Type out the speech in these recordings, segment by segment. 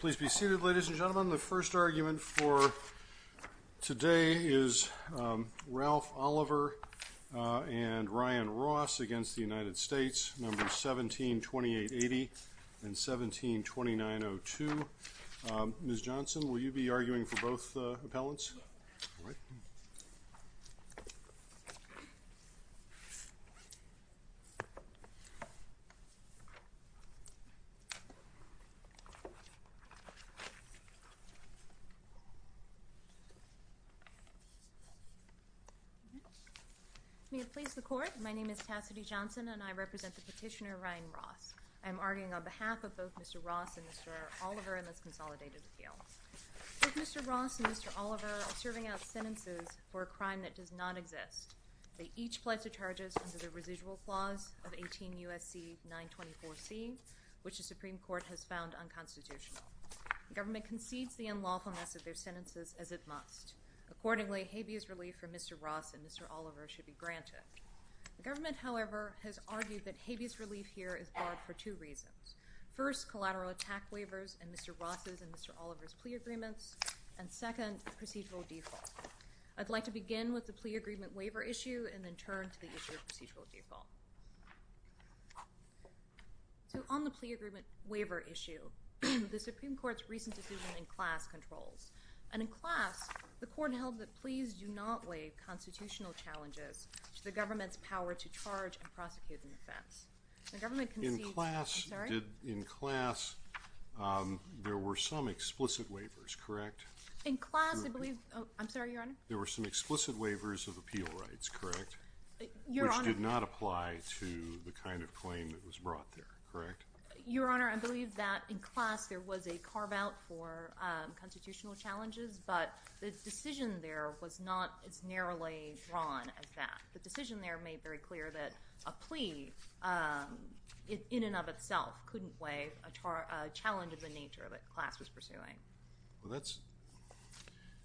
Please be seated, ladies and gentlemen. The first argument for today is Ralph Oliver and Ryan Ross against the United States, numbers 172880 and 172902. Ms. Johnson, will you be seated? May it please the Court, my name is Tassidy Johnson and I represent the petitioner Ryan Ross. I am arguing on behalf of both Mr. Ross and Mr. Oliver in this consolidated appeal. Both Mr. Ross and Mr. Oliver are serving out sentences for a crime that does not exist. They each pledge their charges under the residual clause of 18 U.S.C. 924C, which the Supreme The government concedes the unlawfulness of their sentences as it must. Accordingly, habeas relief from Mr. Ross and Mr. Oliver should be granted. The government, however, has argued that habeas relief here is barred for two reasons. First, collateral attack waivers in Mr. Ross's and Mr. Oliver's plea agreements, and second, procedural default. I'd like to begin with the plea agreement waiver issue and then turn to the issue of procedural default. So on the plea agreement waiver issue, the Supreme Court's recent decision in class controls, and in class, the Court held that pleas do not lay constitutional challenges to the government's power to charge and prosecute an offense. The government concedes, I'm sorry? In class, there were some explicit waivers, correct? In class, I believe, I'm sorry, Your Honor? There were some explicit waivers of appeal rights, correct? Your Honor? Which did not apply to the kind of claim that was brought there, correct? Your Honor, I believe that in class there was a carve-out for constitutional challenges, but the decision there was not as narrowly drawn as that. The decision there made very clear that a plea in and of itself couldn't waive a challenge of the nature that class was pursuing. Well, that's,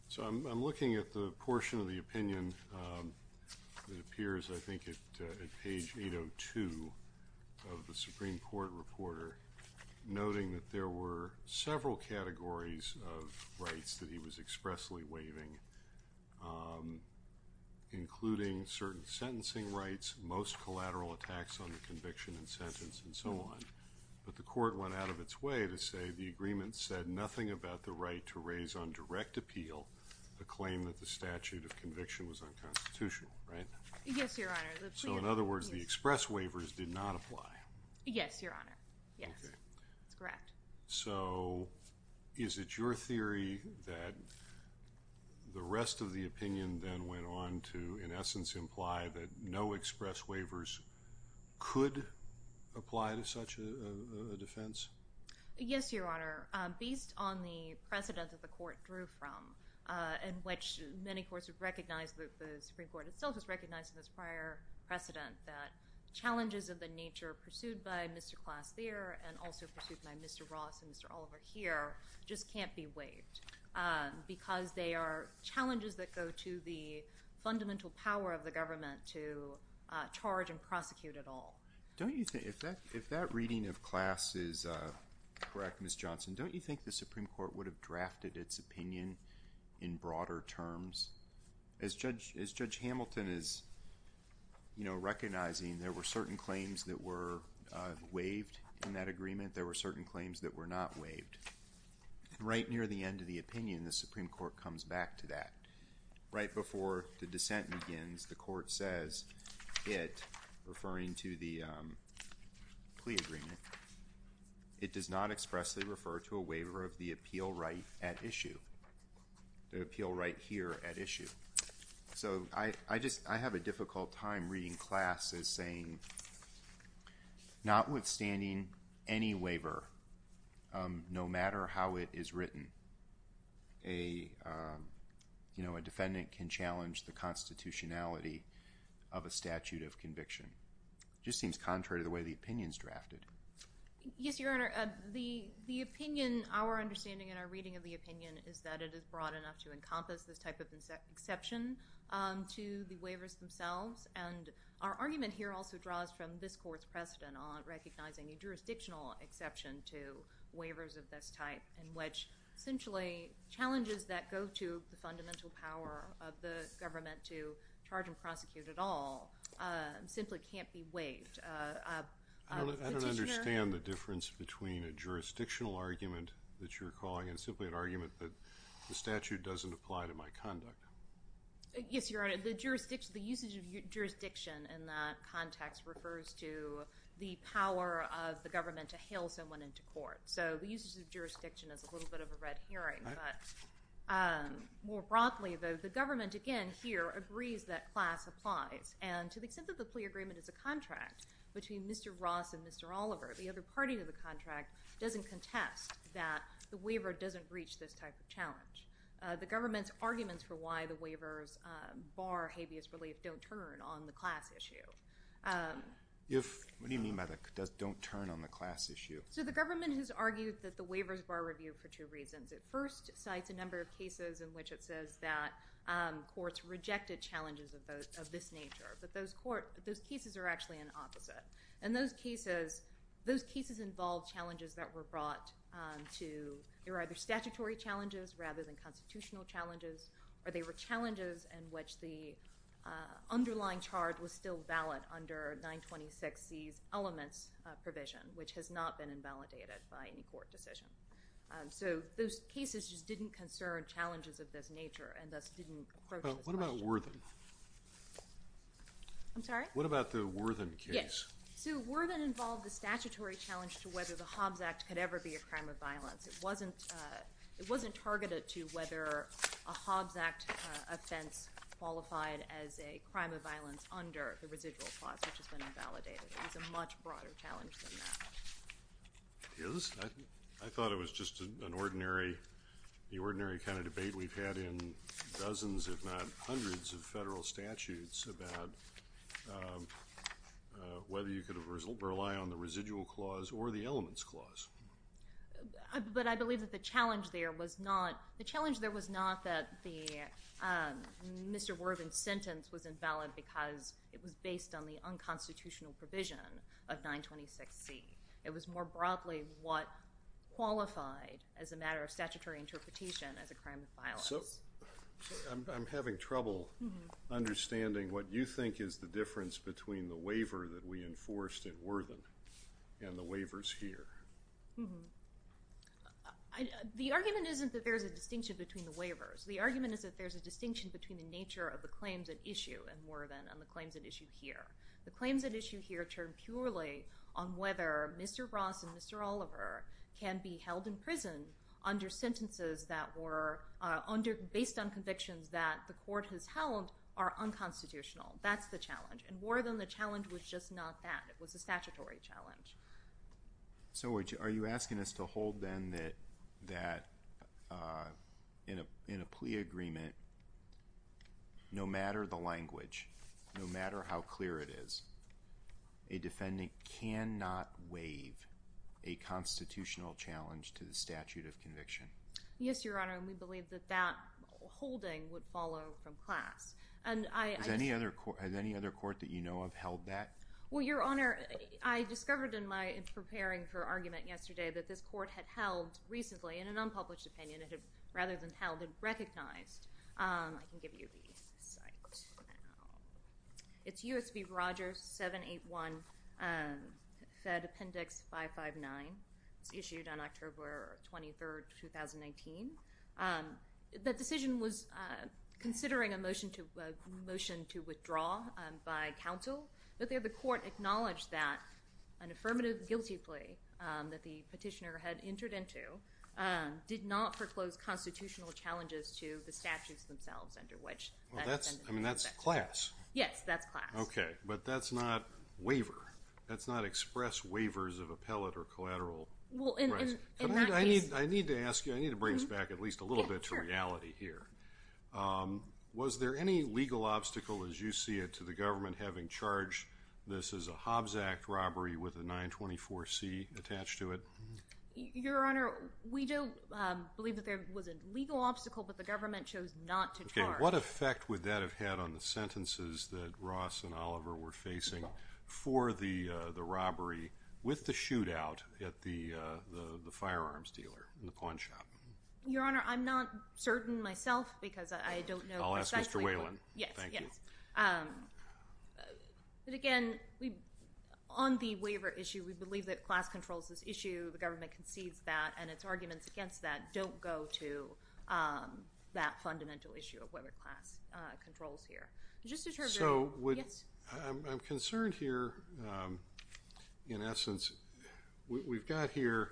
so I'm looking at the portion of the opinion that appears, I think, at page 802 of the Supreme Court reporter, noting that there were several categories of rights that he was expressly waiving, including certain sentencing rights, most collateral attacks on the conviction and sentence, and so on, but the Court went out of its way to say the agreement said nothing about the right to raise on direct appeal a claim that the statute of conviction was unconstitutional, right? Yes, Your Honor. So, in other words, the express waivers did not apply. Yes, Your Honor. Yes, that's correct. So, is it your theory that the rest of the opinion then went on to, in essence, imply that no express waivers could apply to such a defense? Yes, Your Honor. Based on the precedent that the Court drew from, in which many courts have recognized that the Supreme Court itself has recognized in this prior precedent that challenges of the nature pursued by Mr. Class there and also pursued by Mr. Ross and Mr. Oliver here just can't be waived because they are challenges that go to the fundamental power of the government to charge and prosecute at all. Don't you think, if that reading of Class is correct, Ms. Johnson, don't you think the Supreme Court would have drafted its opinion in broader terms? As Judge Hamilton is, you know, recognizing there were certain claims that were waived in that agreement, there were certain claims that were not waived. Right near the end of the opinion, the Supreme Court comes back to that. Right before the dissent begins, the Court says it, referring to the plea agreement, it does not express the claim that the Supreme Court would actually refer to a waiver of the appeal right at issue, the appeal right here at issue. So, I just, I have a difficult time reading Class as saying, notwithstanding any waiver, no matter how it is written, a, you know, a defendant can challenge the constitutionality of a statute of conviction. It just seems contrary to the way the opinion is drafted. Yes, Your Honor. The opinion, our understanding and our reading of the opinion is that it is broad enough to encompass this type of exception to the waivers themselves, and our argument here also draws from this Court's precedent on recognizing a jurisdictional exception to waivers of this type in which, essentially, challenges that go to the fundamental power of the government to charge and prosecute at all simply can't be waived. I don't understand the difference between a jurisdictional argument that you're calling and simply an argument that the statute doesn't apply to my conduct. Yes, Your Honor. The usage of jurisdiction in that context refers to the power of the government to hail someone into court. So, the usage of jurisdiction is a little bit of a red herring, but more broadly, the government, again, here, agrees that Class applies, and to the extent that the plea agreement is a contract between Mr. Ross and Mr. Oliver, the other party to the contract doesn't contest that the waiver doesn't reach this type of challenge. The government's arguments for why the waivers bar habeas relief don't turn on the Class issue. What do you mean by the don't turn on the Class issue? So, the government has argued that the waivers bar review for two reasons. It first cites a number of cases in which it says that courts rejected challenges of this nature, but those cases are actually an opposite, and those cases involve challenges that were brought to, they were either statutory challenges rather than constitutional challenges, or they were challenges in which the underlying charge was still valid under 926C's elements provision, which has not been invalidated by any court decision. So, those cases just didn't concern challenges of this nature and thus didn't approach this question. I'm sorry? What about the Worthen case? Yes. So, Worthen involved the statutory challenge to whether the Hobbs Act could ever be a crime of violence. It wasn't targeted to whether a Hobbs Act offense qualified as a crime of violence under the residual clause, which has been invalidated. It was a much broader challenge than that. It is. I thought it was just an ordinary, the ordinary kind of debate we've had in terms of federal statutes about whether you could rely on the residual clause or the elements clause. But I believe that the challenge there was not, the challenge there was not that the Mr. Worthen's sentence was invalid because it was based on the unconstitutional provision of 926C. It was more broadly what qualified as a matter of statutory interpretation as a crime of violence. So, I'm having trouble understanding what you think is the difference between the waiver that we enforced in Worthen and the waivers here. The argument isn't that there's a distinction between the waivers. The argument is that there's a distinction between the nature of the claims at issue in Worthen and the claims at issue here. The claims at issue here turn purely on whether Mr. Ross and Mr. Oliver can be held in prison under sentences that were under, based on convictions that the court has held are unconstitutional. That's the challenge. In Worthen, the challenge was just not that. It was a statutory challenge. So, are you asking us to hold then that in a plea agreement, no matter the language, no matter how clear it is, a defendant cannot waive a constitutional challenge to the statute of conviction? Yes, Your Honor, and we believe that that holding would follow from class. Has any other court that you know of held that? Well, Your Honor, I discovered in my preparing for argument yesterday that this court had rather than held it, recognized. I can give you the site now. It's U.S. v. Rogers 781 Fed Appendix 559. It was issued on October 23, 2019. The decision was considering a motion to withdraw by counsel, but there the court acknowledged that an affirmative guilty plea that the petitioner had entered into did not foreclose constitutional challenges to the statutes themselves under which that sentence was effected. Well, that's class. Yes, that's class. Okay, but that's not waiver. That's not express waivers of appellate or collateral. Well, in that case... I need to ask you, I need to bring this back at least a little bit to reality here. Yeah, sure. Was there any legal obstacle, as you see it, to the government having charged this as a Hobbs Act robbery with a 924C attached to it? Your Honor, we do believe that there was a legal obstacle, but the government chose not to charge. Okay, what effect would that have had on the sentences that Ross and Oliver were facing for the robbery with the shootout at the firearms dealer in the pawn shop? Your Honor, I'm not certain myself because I don't know exactly... I'll ask Mr. Whalen. Yes, yes. Thank you. But again, on the waiver issue, we believe that class controls this issue. The government concedes that, and its arguments against that don't go to that fundamental issue of whether class controls here. So, I'm concerned here in essence. We've got here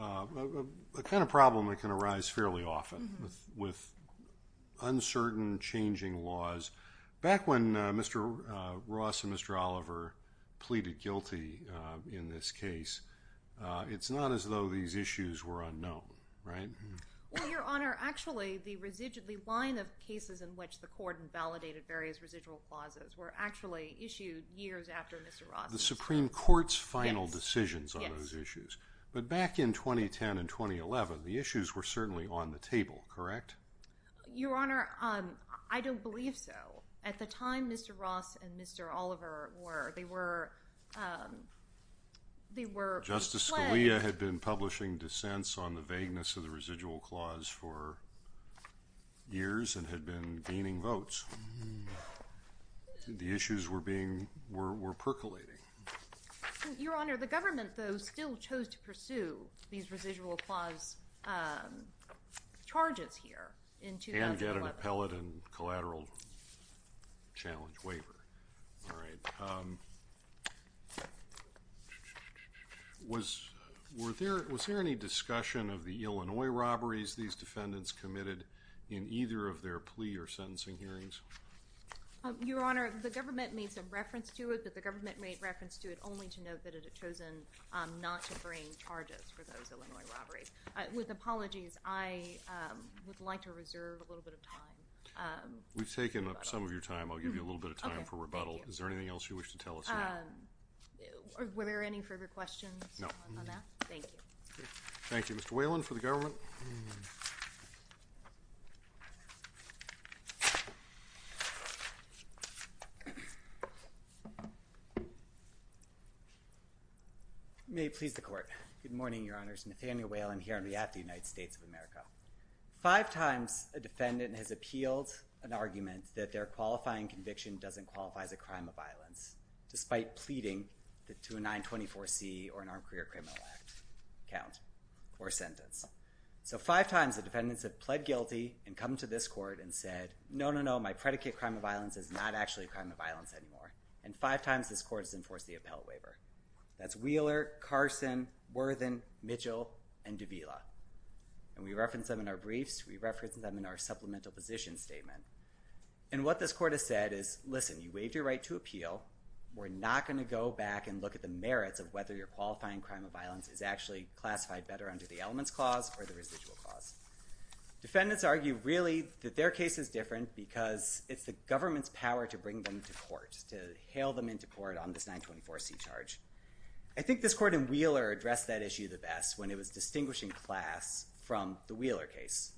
a kind of problem that can arise fairly often with uncertain changing laws. Back when Mr. Ross and Mr. Oliver pleaded guilty in this case, it's not as though these issues were unknown, right? Well, Your Honor, actually the line of cases in which the court invalidated various residual clauses were actually issued years after Mr. Ross's. The Supreme Court's final decisions on those issues. But back in 2010 and 2011, the issues were certainly on the table, correct? Your Honor, I don't believe so. At the time Mr. Ross and Mr. Oliver were, they were... Justice Scalia had been publishing dissents on the vagueness of the residual clause for years and had been gaining votes. The issues were percolating. Your Honor, the government, though, still chose to pursue these residual clause charges here in 2011. And get an appellate and collateral challenge waiver. All right. Was there any discussion of the Illinois robberies these defendants committed in either of their plea or sentencing hearings? Your Honor, the government made some reference to it, but the government made reference to it only to note that it had chosen not to bring charges for those Illinois robberies. With apologies, I would like to reserve a little bit of time. We've taken up some of your time. I'll give you a little bit of time for rebuttal. Is there anything else you wish to tell us now? Were there any further questions on that? No. Thank you. Thank you, Mr. Whelan, for the government. May it please the Court. Good morning, Your Honors. Nathaniel Whelan here on behalf of the United States of America. Five times a defendant has appealed an argument that their qualifying conviction doesn't qualify as a crime of violence despite pleading to a 924C or an Armed Career Criminal Act count or sentence. So five times the defendants have pled guilty and come to this court and said, no, no, no, my predicate crime of violence is not actually a crime of violence anymore. And five times this court has enforced the appellate waiver. That's Wheeler, Carson, Worthen, Mitchell, and Davila. And we reference them in our briefs. We reference them in our supplemental position statement. And what this court has said is, listen, you waived your right to appeal. We're not going to go back and look at the merits of whether your qualifying crime of violence is actually classified better under the elements clause or the residual clause. Defendants argue really that their case is different because it's the government's power to bring them to court, to hail them into court on this 924C charge. I think this court in Wheeler addressed that issue the best when it was distinguishing class from the Wheeler case.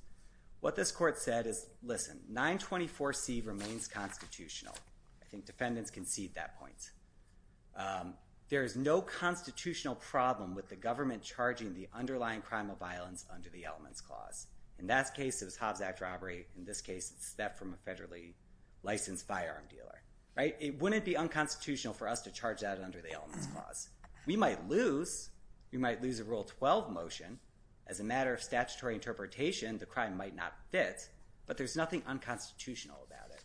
What this court said is, listen, 924C remains constitutional. I think defendants concede that point. There is no constitutional problem with the government charging the underlying crime of violence under the elements clause. In that case, it was Hobbs Act robbery. In this case, it's theft from a federally licensed firearm dealer. It wouldn't be unconstitutional for us to charge that under the elements clause. We might lose a Rule 12 motion as a matter of statutory interpretation the crime might not fit, but there's nothing unconstitutional about it.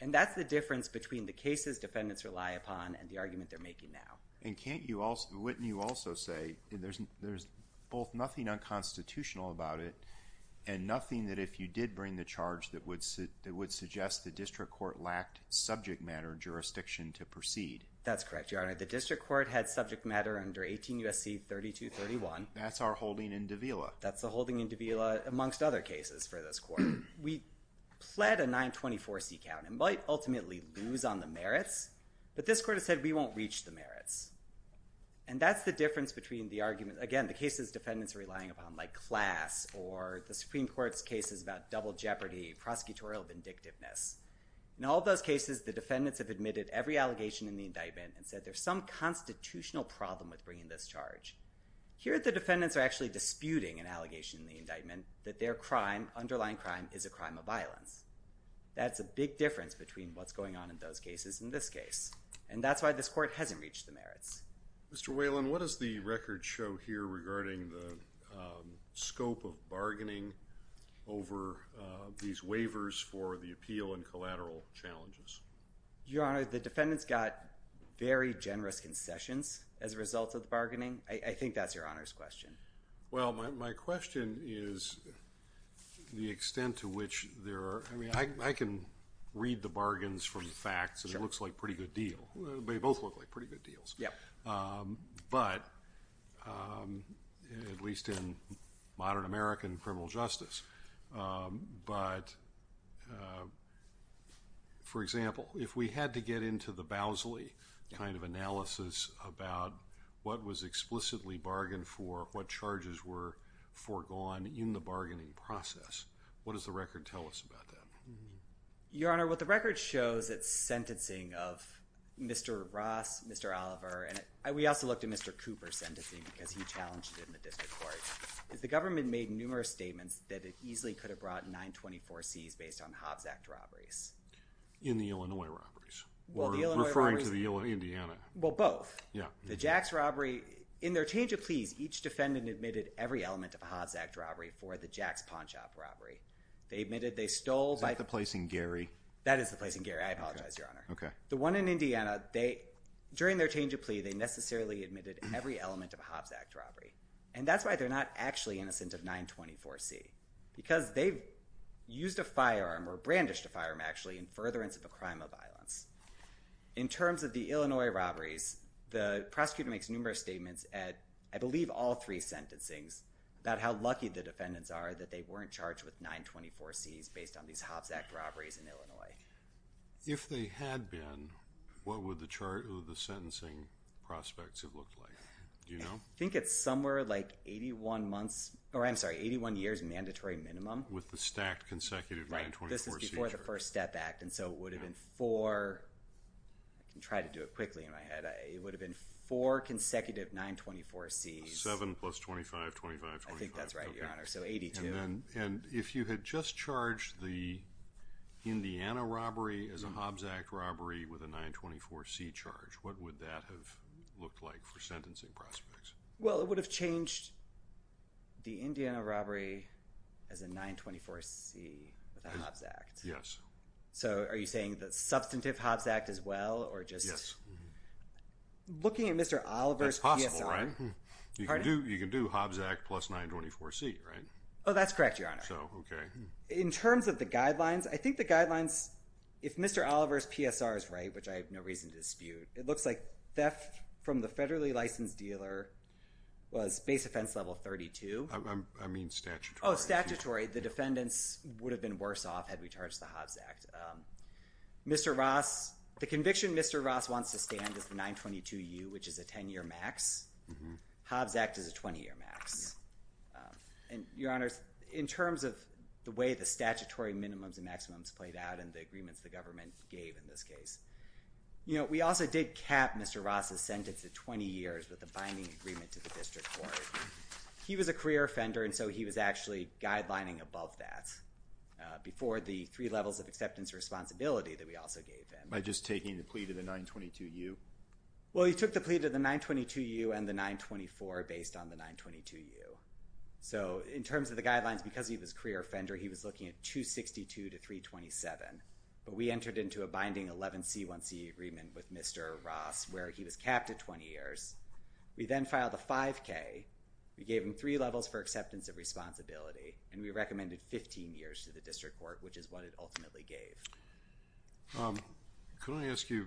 And that's the difference between the cases defendants rely upon and the argument they're making now. And can't you also – wouldn't you also say there's both nothing unconstitutional about it and nothing that if you did bring the charge that would suggest the district court lacked subject matter jurisdiction to proceed? That's correct, Your Honor. The district court had subject matter under 18 U.S.C. 3231. That's our holding in Davila. That's the holding in Davila amongst other cases for this court. We pled a 924C count and might ultimately lose on the merits, but this court has said we won't reach the merits. And that's the difference between the argument – again, the cases defendants are relying upon like class or the Supreme Court's cases about double jeopardy, prosecutorial vindictiveness. In all those cases, the defendants have admitted every allegation in the indictment and said there's some constitutional problem with bringing this charge. Here the defendants are actually disputing an allegation in the indictment that their crime, underlying crime, is a crime of violence. That's a big difference between what's going on in those cases and this case, and that's why this court hasn't reached the merits. Mr. Whalen, what does the record show here regarding the scope of bargaining over these waivers for the appeal and collateral challenges? Your Honor, the defendants got very generous concessions as a result of the bargaining. I think that's Your Honor's question. Well, my question is the extent to which there are – I mean, I can read the bargains from the facts and it looks like a pretty good deal. They both look like pretty good deals. But at least in modern American criminal justice, but for example, if we had to get into the Bowsley kind of analysis about what was explicitly bargained for, what charges were foregone in the bargaining process, what does the record tell us about that? Your Honor, what the record shows, it's sentencing of Mr. Ross, Mr. Oliver, and we also looked at Mr. Cooper's sentencing because he challenged it in the district court. The government made numerous statements that it easily could have brought 924Cs based on Hobbs Act robberies. In the Illinois robberies? Well, the Illinois robberies – Referring to the Indiana. Well, both. Yeah. The Jacks robbery, in their change of pleas, each defendant admitted every element of a Hobbs Act robbery for the Jacks pawn shop robbery. They admitted they stole by – Isn't that the place in Gary? That is the place in Gary. I apologize, Your Honor. Okay. The one in Indiana, during their change of plea, they necessarily admitted every element of a Hobbs Act robbery. And that's why they're not actually innocent of 924C because they've used a firearm or brandished a firearm, actually, in furtherance of a crime of violence. In terms of the Illinois robberies, the prosecutor makes numerous statements at, I believe, all three sentencings about how lucky the defendants are that they weren't charged with 924Cs based on these Hobbs Act robberies in Illinois. If they had been, what would the sentencing prospects have looked like? Do you know? I think it's somewhere like 81 months – or, I'm sorry, 81 years mandatory minimum. With the stacked consecutive 924Cs. Right. This is before the First Step Act, and so it would have been four – I can try to do it quickly in my head. It would have been four consecutive 924Cs. Seven plus 25, 25, 25. I think that's right, Your Honor. So 82. And if you had just charged the Indiana robbery as a Hobbs Act robbery with a 924C charge, what would that have looked like for sentencing prospects? Well, it would have changed the Indiana robbery as a 924C with a Hobbs Act. Yes. So are you saying the substantive Hobbs Act as well, or just – Yes. Looking at Mr. Oliver's PSR – That's possible, right? Pardon? You can do Hobbs Act plus 924C, right? Oh, that's correct, Your Honor. So, okay. In terms of the guidelines, I think the guidelines – if Mr. Oliver's PSR is right, which I have no reason to dispute, it looks like theft from the base offense level 32. I mean statutory. Oh, statutory. The defendants would have been worse off had we charged the Hobbs Act. Mr. Ross – the conviction Mr. Ross wants to stand is the 922U, which is a 10-year max. Hobbs Act is a 20-year max. And, Your Honors, in terms of the way the statutory minimums and maximums played out and the agreements the government gave in this case, we also did cap Mr. Ross's sentence to 20 years with a binding agreement to the district court. He was a career offender, and so he was actually guidelining above that before the three levels of acceptance responsibility that we also gave him. By just taking the plea to the 922U? Well, he took the plea to the 922U and the 924 based on the 922U. So, in terms of the guidelines, because he was a career offender, he was looking at 262 to 327. But we entered into a binding 11C1C agreement with Mr. Ross where he was capped at 20 years. We then filed a 5K. We gave him three levels for acceptance of responsibility, and we recommended 15 years to the district court, which is what it ultimately gave. Can I ask you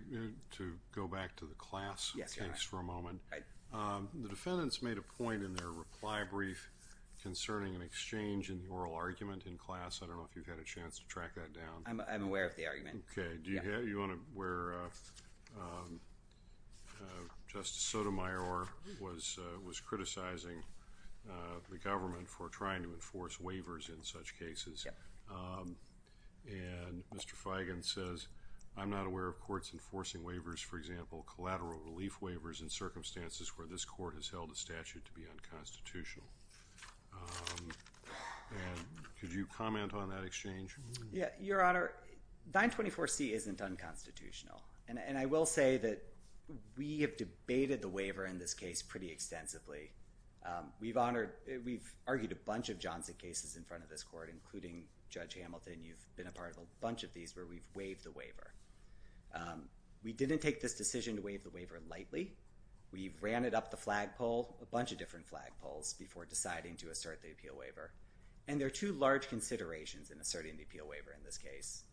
to go back to the class case for a moment? Yes, Your Honor. The defendants made a point in their reply brief concerning an exchange in the oral argument in class. I don't know if you've had a chance to track that down. I'm aware of the argument. Okay. Do you want to where Justice Sotomayor was criticizing the government for trying to enforce waivers in such cases? Yes. And Mr. Feigin says, I'm not aware of courts enforcing waivers, for example, collateral relief waivers in circumstances where this court has held a statute to be unconstitutional. And could you comment on that exchange? Your Honor, 924C isn't unconstitutional, and I will say that we have debated the waiver in this case pretty extensively. We've argued a bunch of Johnson cases in front of this court, including Judge Hamilton. You've been a part of a bunch of these where we've waived the waiver. We didn't take this decision to waive the waiver lightly. We've ran it up the flagpole, a bunch of different flagpoles, before deciding to assert the appeal waiver. And there are two large considerations in asserting the appeal waiver in this case.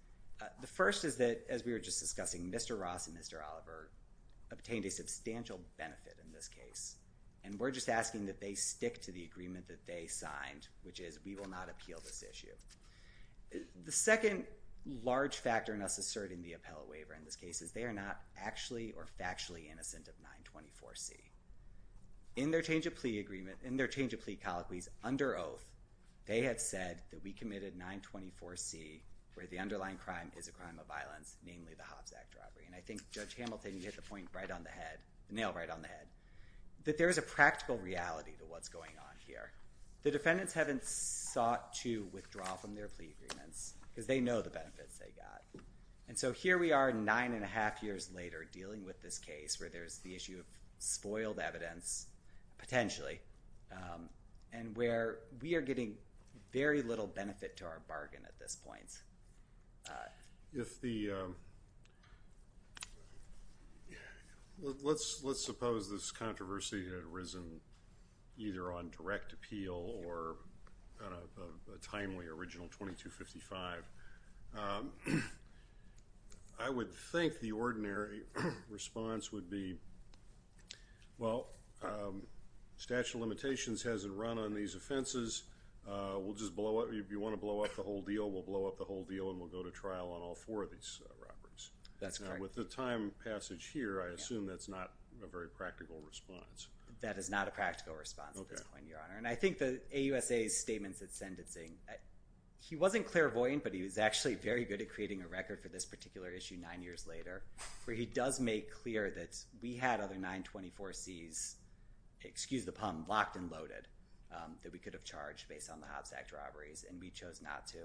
The first is that, as we were just discussing, Mr. Ross and Mr. Oliver obtained a substantial benefit in this case, and we're just asking that they stick to the agreement that they signed, which is we will not appeal this issue. The second large factor in us asserting the appellate waiver in this case is they are not actually or factually innocent of 924C. In their change of plea colloquies under oath, they had said that we committed 924C, where the underlying crime is a crime of violence, namely the Hobbs Act robbery. And I think Judge Hamilton, you hit the point right on the head, the nail right on the head, that there is a practical reality to what's going on here. The defendants haven't sought to withdraw from their plea agreements because they know the benefits they got. And so here we are, nine and a half years later, dealing with this case where there's the issue of spoiled evidence, potentially, and where we are getting very little benefit to our bargain at this point. Let's suppose this controversy had arisen either on direct appeal or on a timely original 2255. I would think the ordinary response would be, well, statute of limitations hasn't run on these offenses. We'll just blow up. If you want to blow up the whole deal, we'll blow up the whole deal and we'll go to trial on all four of these robberies. With the time passage here, I assume that's not a very practical response. That is not a practical response at this point, Your Honor. And I think the AUSA's statements at sentencing, he wasn't clairvoyant, but he was actually very good at creating a record for this particular issue nine years later, where he does make clear that we had other 924Cs, excuse the pun, locked and loaded that we could have charged based on the Hobbs Act robberies, and we chose not to.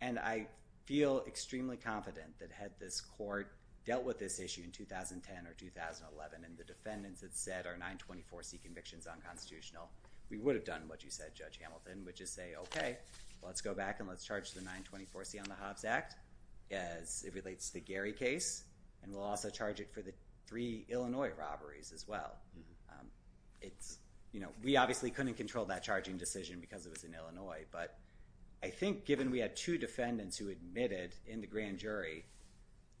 And I feel extremely confident that had this court dealt with this issue in 2010 or 2011, and the defendants had said our 924C conviction is unconstitutional, we would have done what you said, Judge Hamilton, which is say, okay, let's go back and let's charge the 924C on the Hobbs Act as it relates to the Gary case. And we'll also charge it for the three Illinois robberies as well. It's, you know, we obviously couldn't control that charging decision because it was in Illinois, but I think given we had two defendants who admitted in the grand jury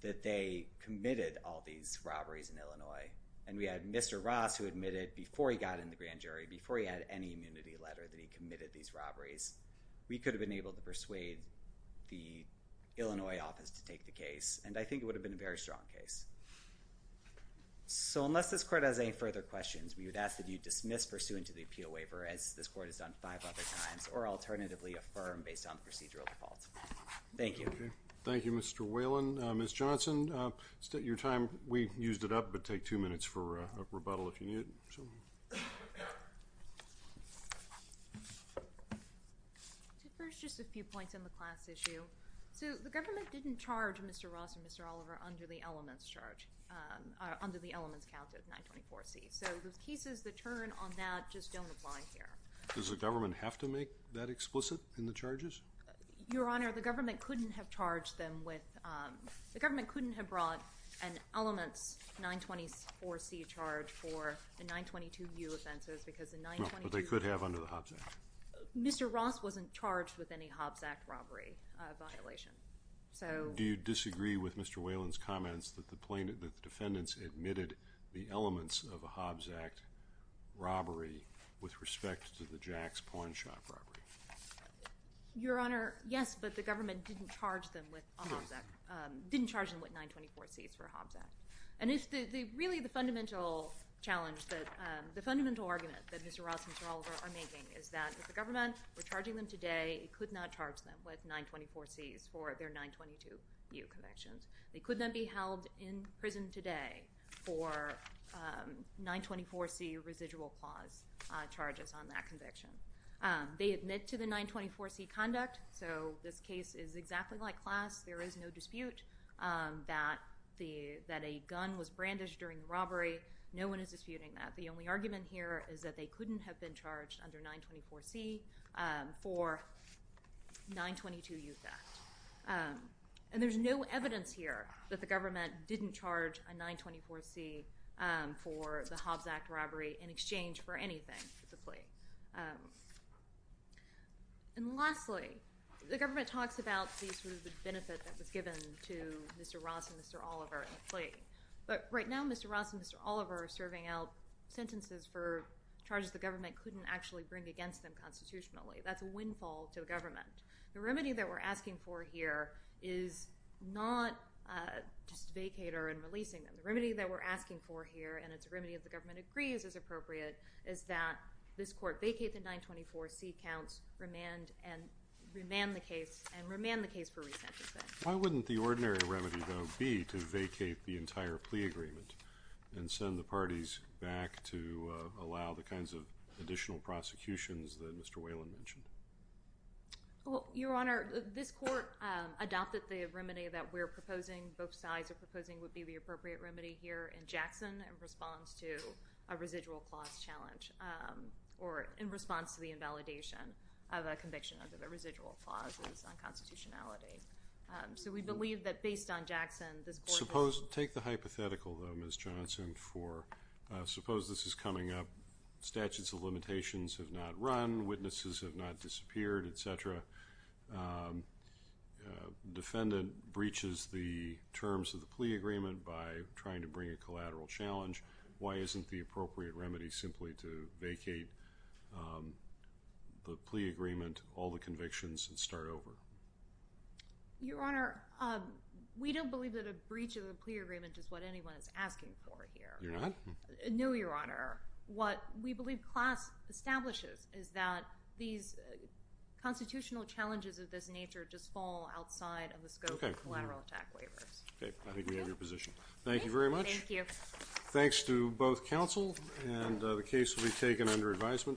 that they committed all these robberies in Illinois, and we had Mr. Ross who admitted before he got in the grand jury, before he had any immunity letter that he committed these robberies, we could have been able to persuade the Illinois office to take the case. And I think it would have been a very strong case. So unless this court has any further questions, we would ask that you dismiss pursuant to the appeal waiver as this court has done five other times, or alternatively affirm based on the procedural default. Thank you. Okay. Thank you, Mr. Whalen. Ms. Johnson, your time, we used it up, but take two minutes for a rebuttal if you need it. So first, just a few points on the class issue. So the government didn't charge Mr. Ross and Mr. Oliver under the elements charge, um, under the elements count of nine 24 C. So those pieces, the turn on that just don't apply here. Does the government have to make that explicit in the charges? Your honor, the government couldn't have charged them with, um, the government couldn't have brought an elements nine 24 C charge for the nine 22 U offenses because the nine, but they could have under the Hobbs act. Mr. Ross wasn't charged with any Hobbs act robbery, a violation. So do you disagree with Mr. Whalen's comments that the plaintiff, that the defendants admitted the elements of a Hobbs act robbery with respect to the Jack's pawn shop robbery? Your honor. Yes. But the government didn't charge them with, um, didn't charge them with nine 24 seats for Hobbs act. And if the, really the fundamental challenge that, um, the fundamental argument that Mr. Ross and Mr. Oliver are making is that if the government were charging them today, it could not charge them with nine 24 C's for their nine 22 U connections. They could not be held in prison today for, um, nine 24 C residual clause, uh, charges on that conviction. Um, they admit to the nine 24 C conduct. So this case is exactly like class. There is no dispute, um, that the, that a gun was brandished during the robbery. No one is disputing that. The only argument here is that they couldn't have been charged under nine 24 C, um, for nine 22 youth act. Um, and there's no evidence here that the government didn't charge a nine 24 C, um, for the Hobbs act robbery in exchange for anything, specifically. Um, and lastly, the government talks about these sort of the benefit that was given to Mr. Ross and Mr. Oliver in the plea. But right now, Mr. Ross and Mr. Oliver are serving out sentences for charges. The government couldn't actually bring against them constitutionally. That's a windfall to the government. The remedy that we're asking for here is not, uh, just vacate or, and releasing them. The remedy that we're asking for here and it's a remedy of the government agrees as appropriate is that this court vacate the nine 24 C counts remand and remand the case and remand the case for resentencing. Why wouldn't the ordinary remedy though be to vacate the entire plea agreement and send the parties back to, uh, allow the kinds of additional prosecutions that Mr. Whalen mentioned? Well, your honor, this court, um, adopted the remedy that we're proposing. Both sides are proposing would be the appropriate remedy here in Jackson and response to a residual clause challenge. Um, or in response to the invalidation of a conviction under the residual clauses on constitutionality. Um, so we believe that based on Jackson, this suppose, take the hypothetical though, Ms. Johnson for, uh, suppose this is coming up. Statutes of limitations have not run. Witnesses have not disappeared, et cetera. Um, uh, defendant breaches the terms of the plea agreement by trying to bring a collateral challenge. Why isn't the appropriate remedy simply to vacate, um, the plea agreement, all the convictions and start over? Your honor. Um, we don't believe that a breach of the plea agreement is what anyone is asking for here. You're not? No, your honor. What we believe class establishes is that these, uh, constitutional challenges of this nature just fall outside of the scope of collateral attack waivers. Okay. I think we have your position. Thank you very much. Thank you. Thanks to both counsel and, uh, the case will be taken under advisement.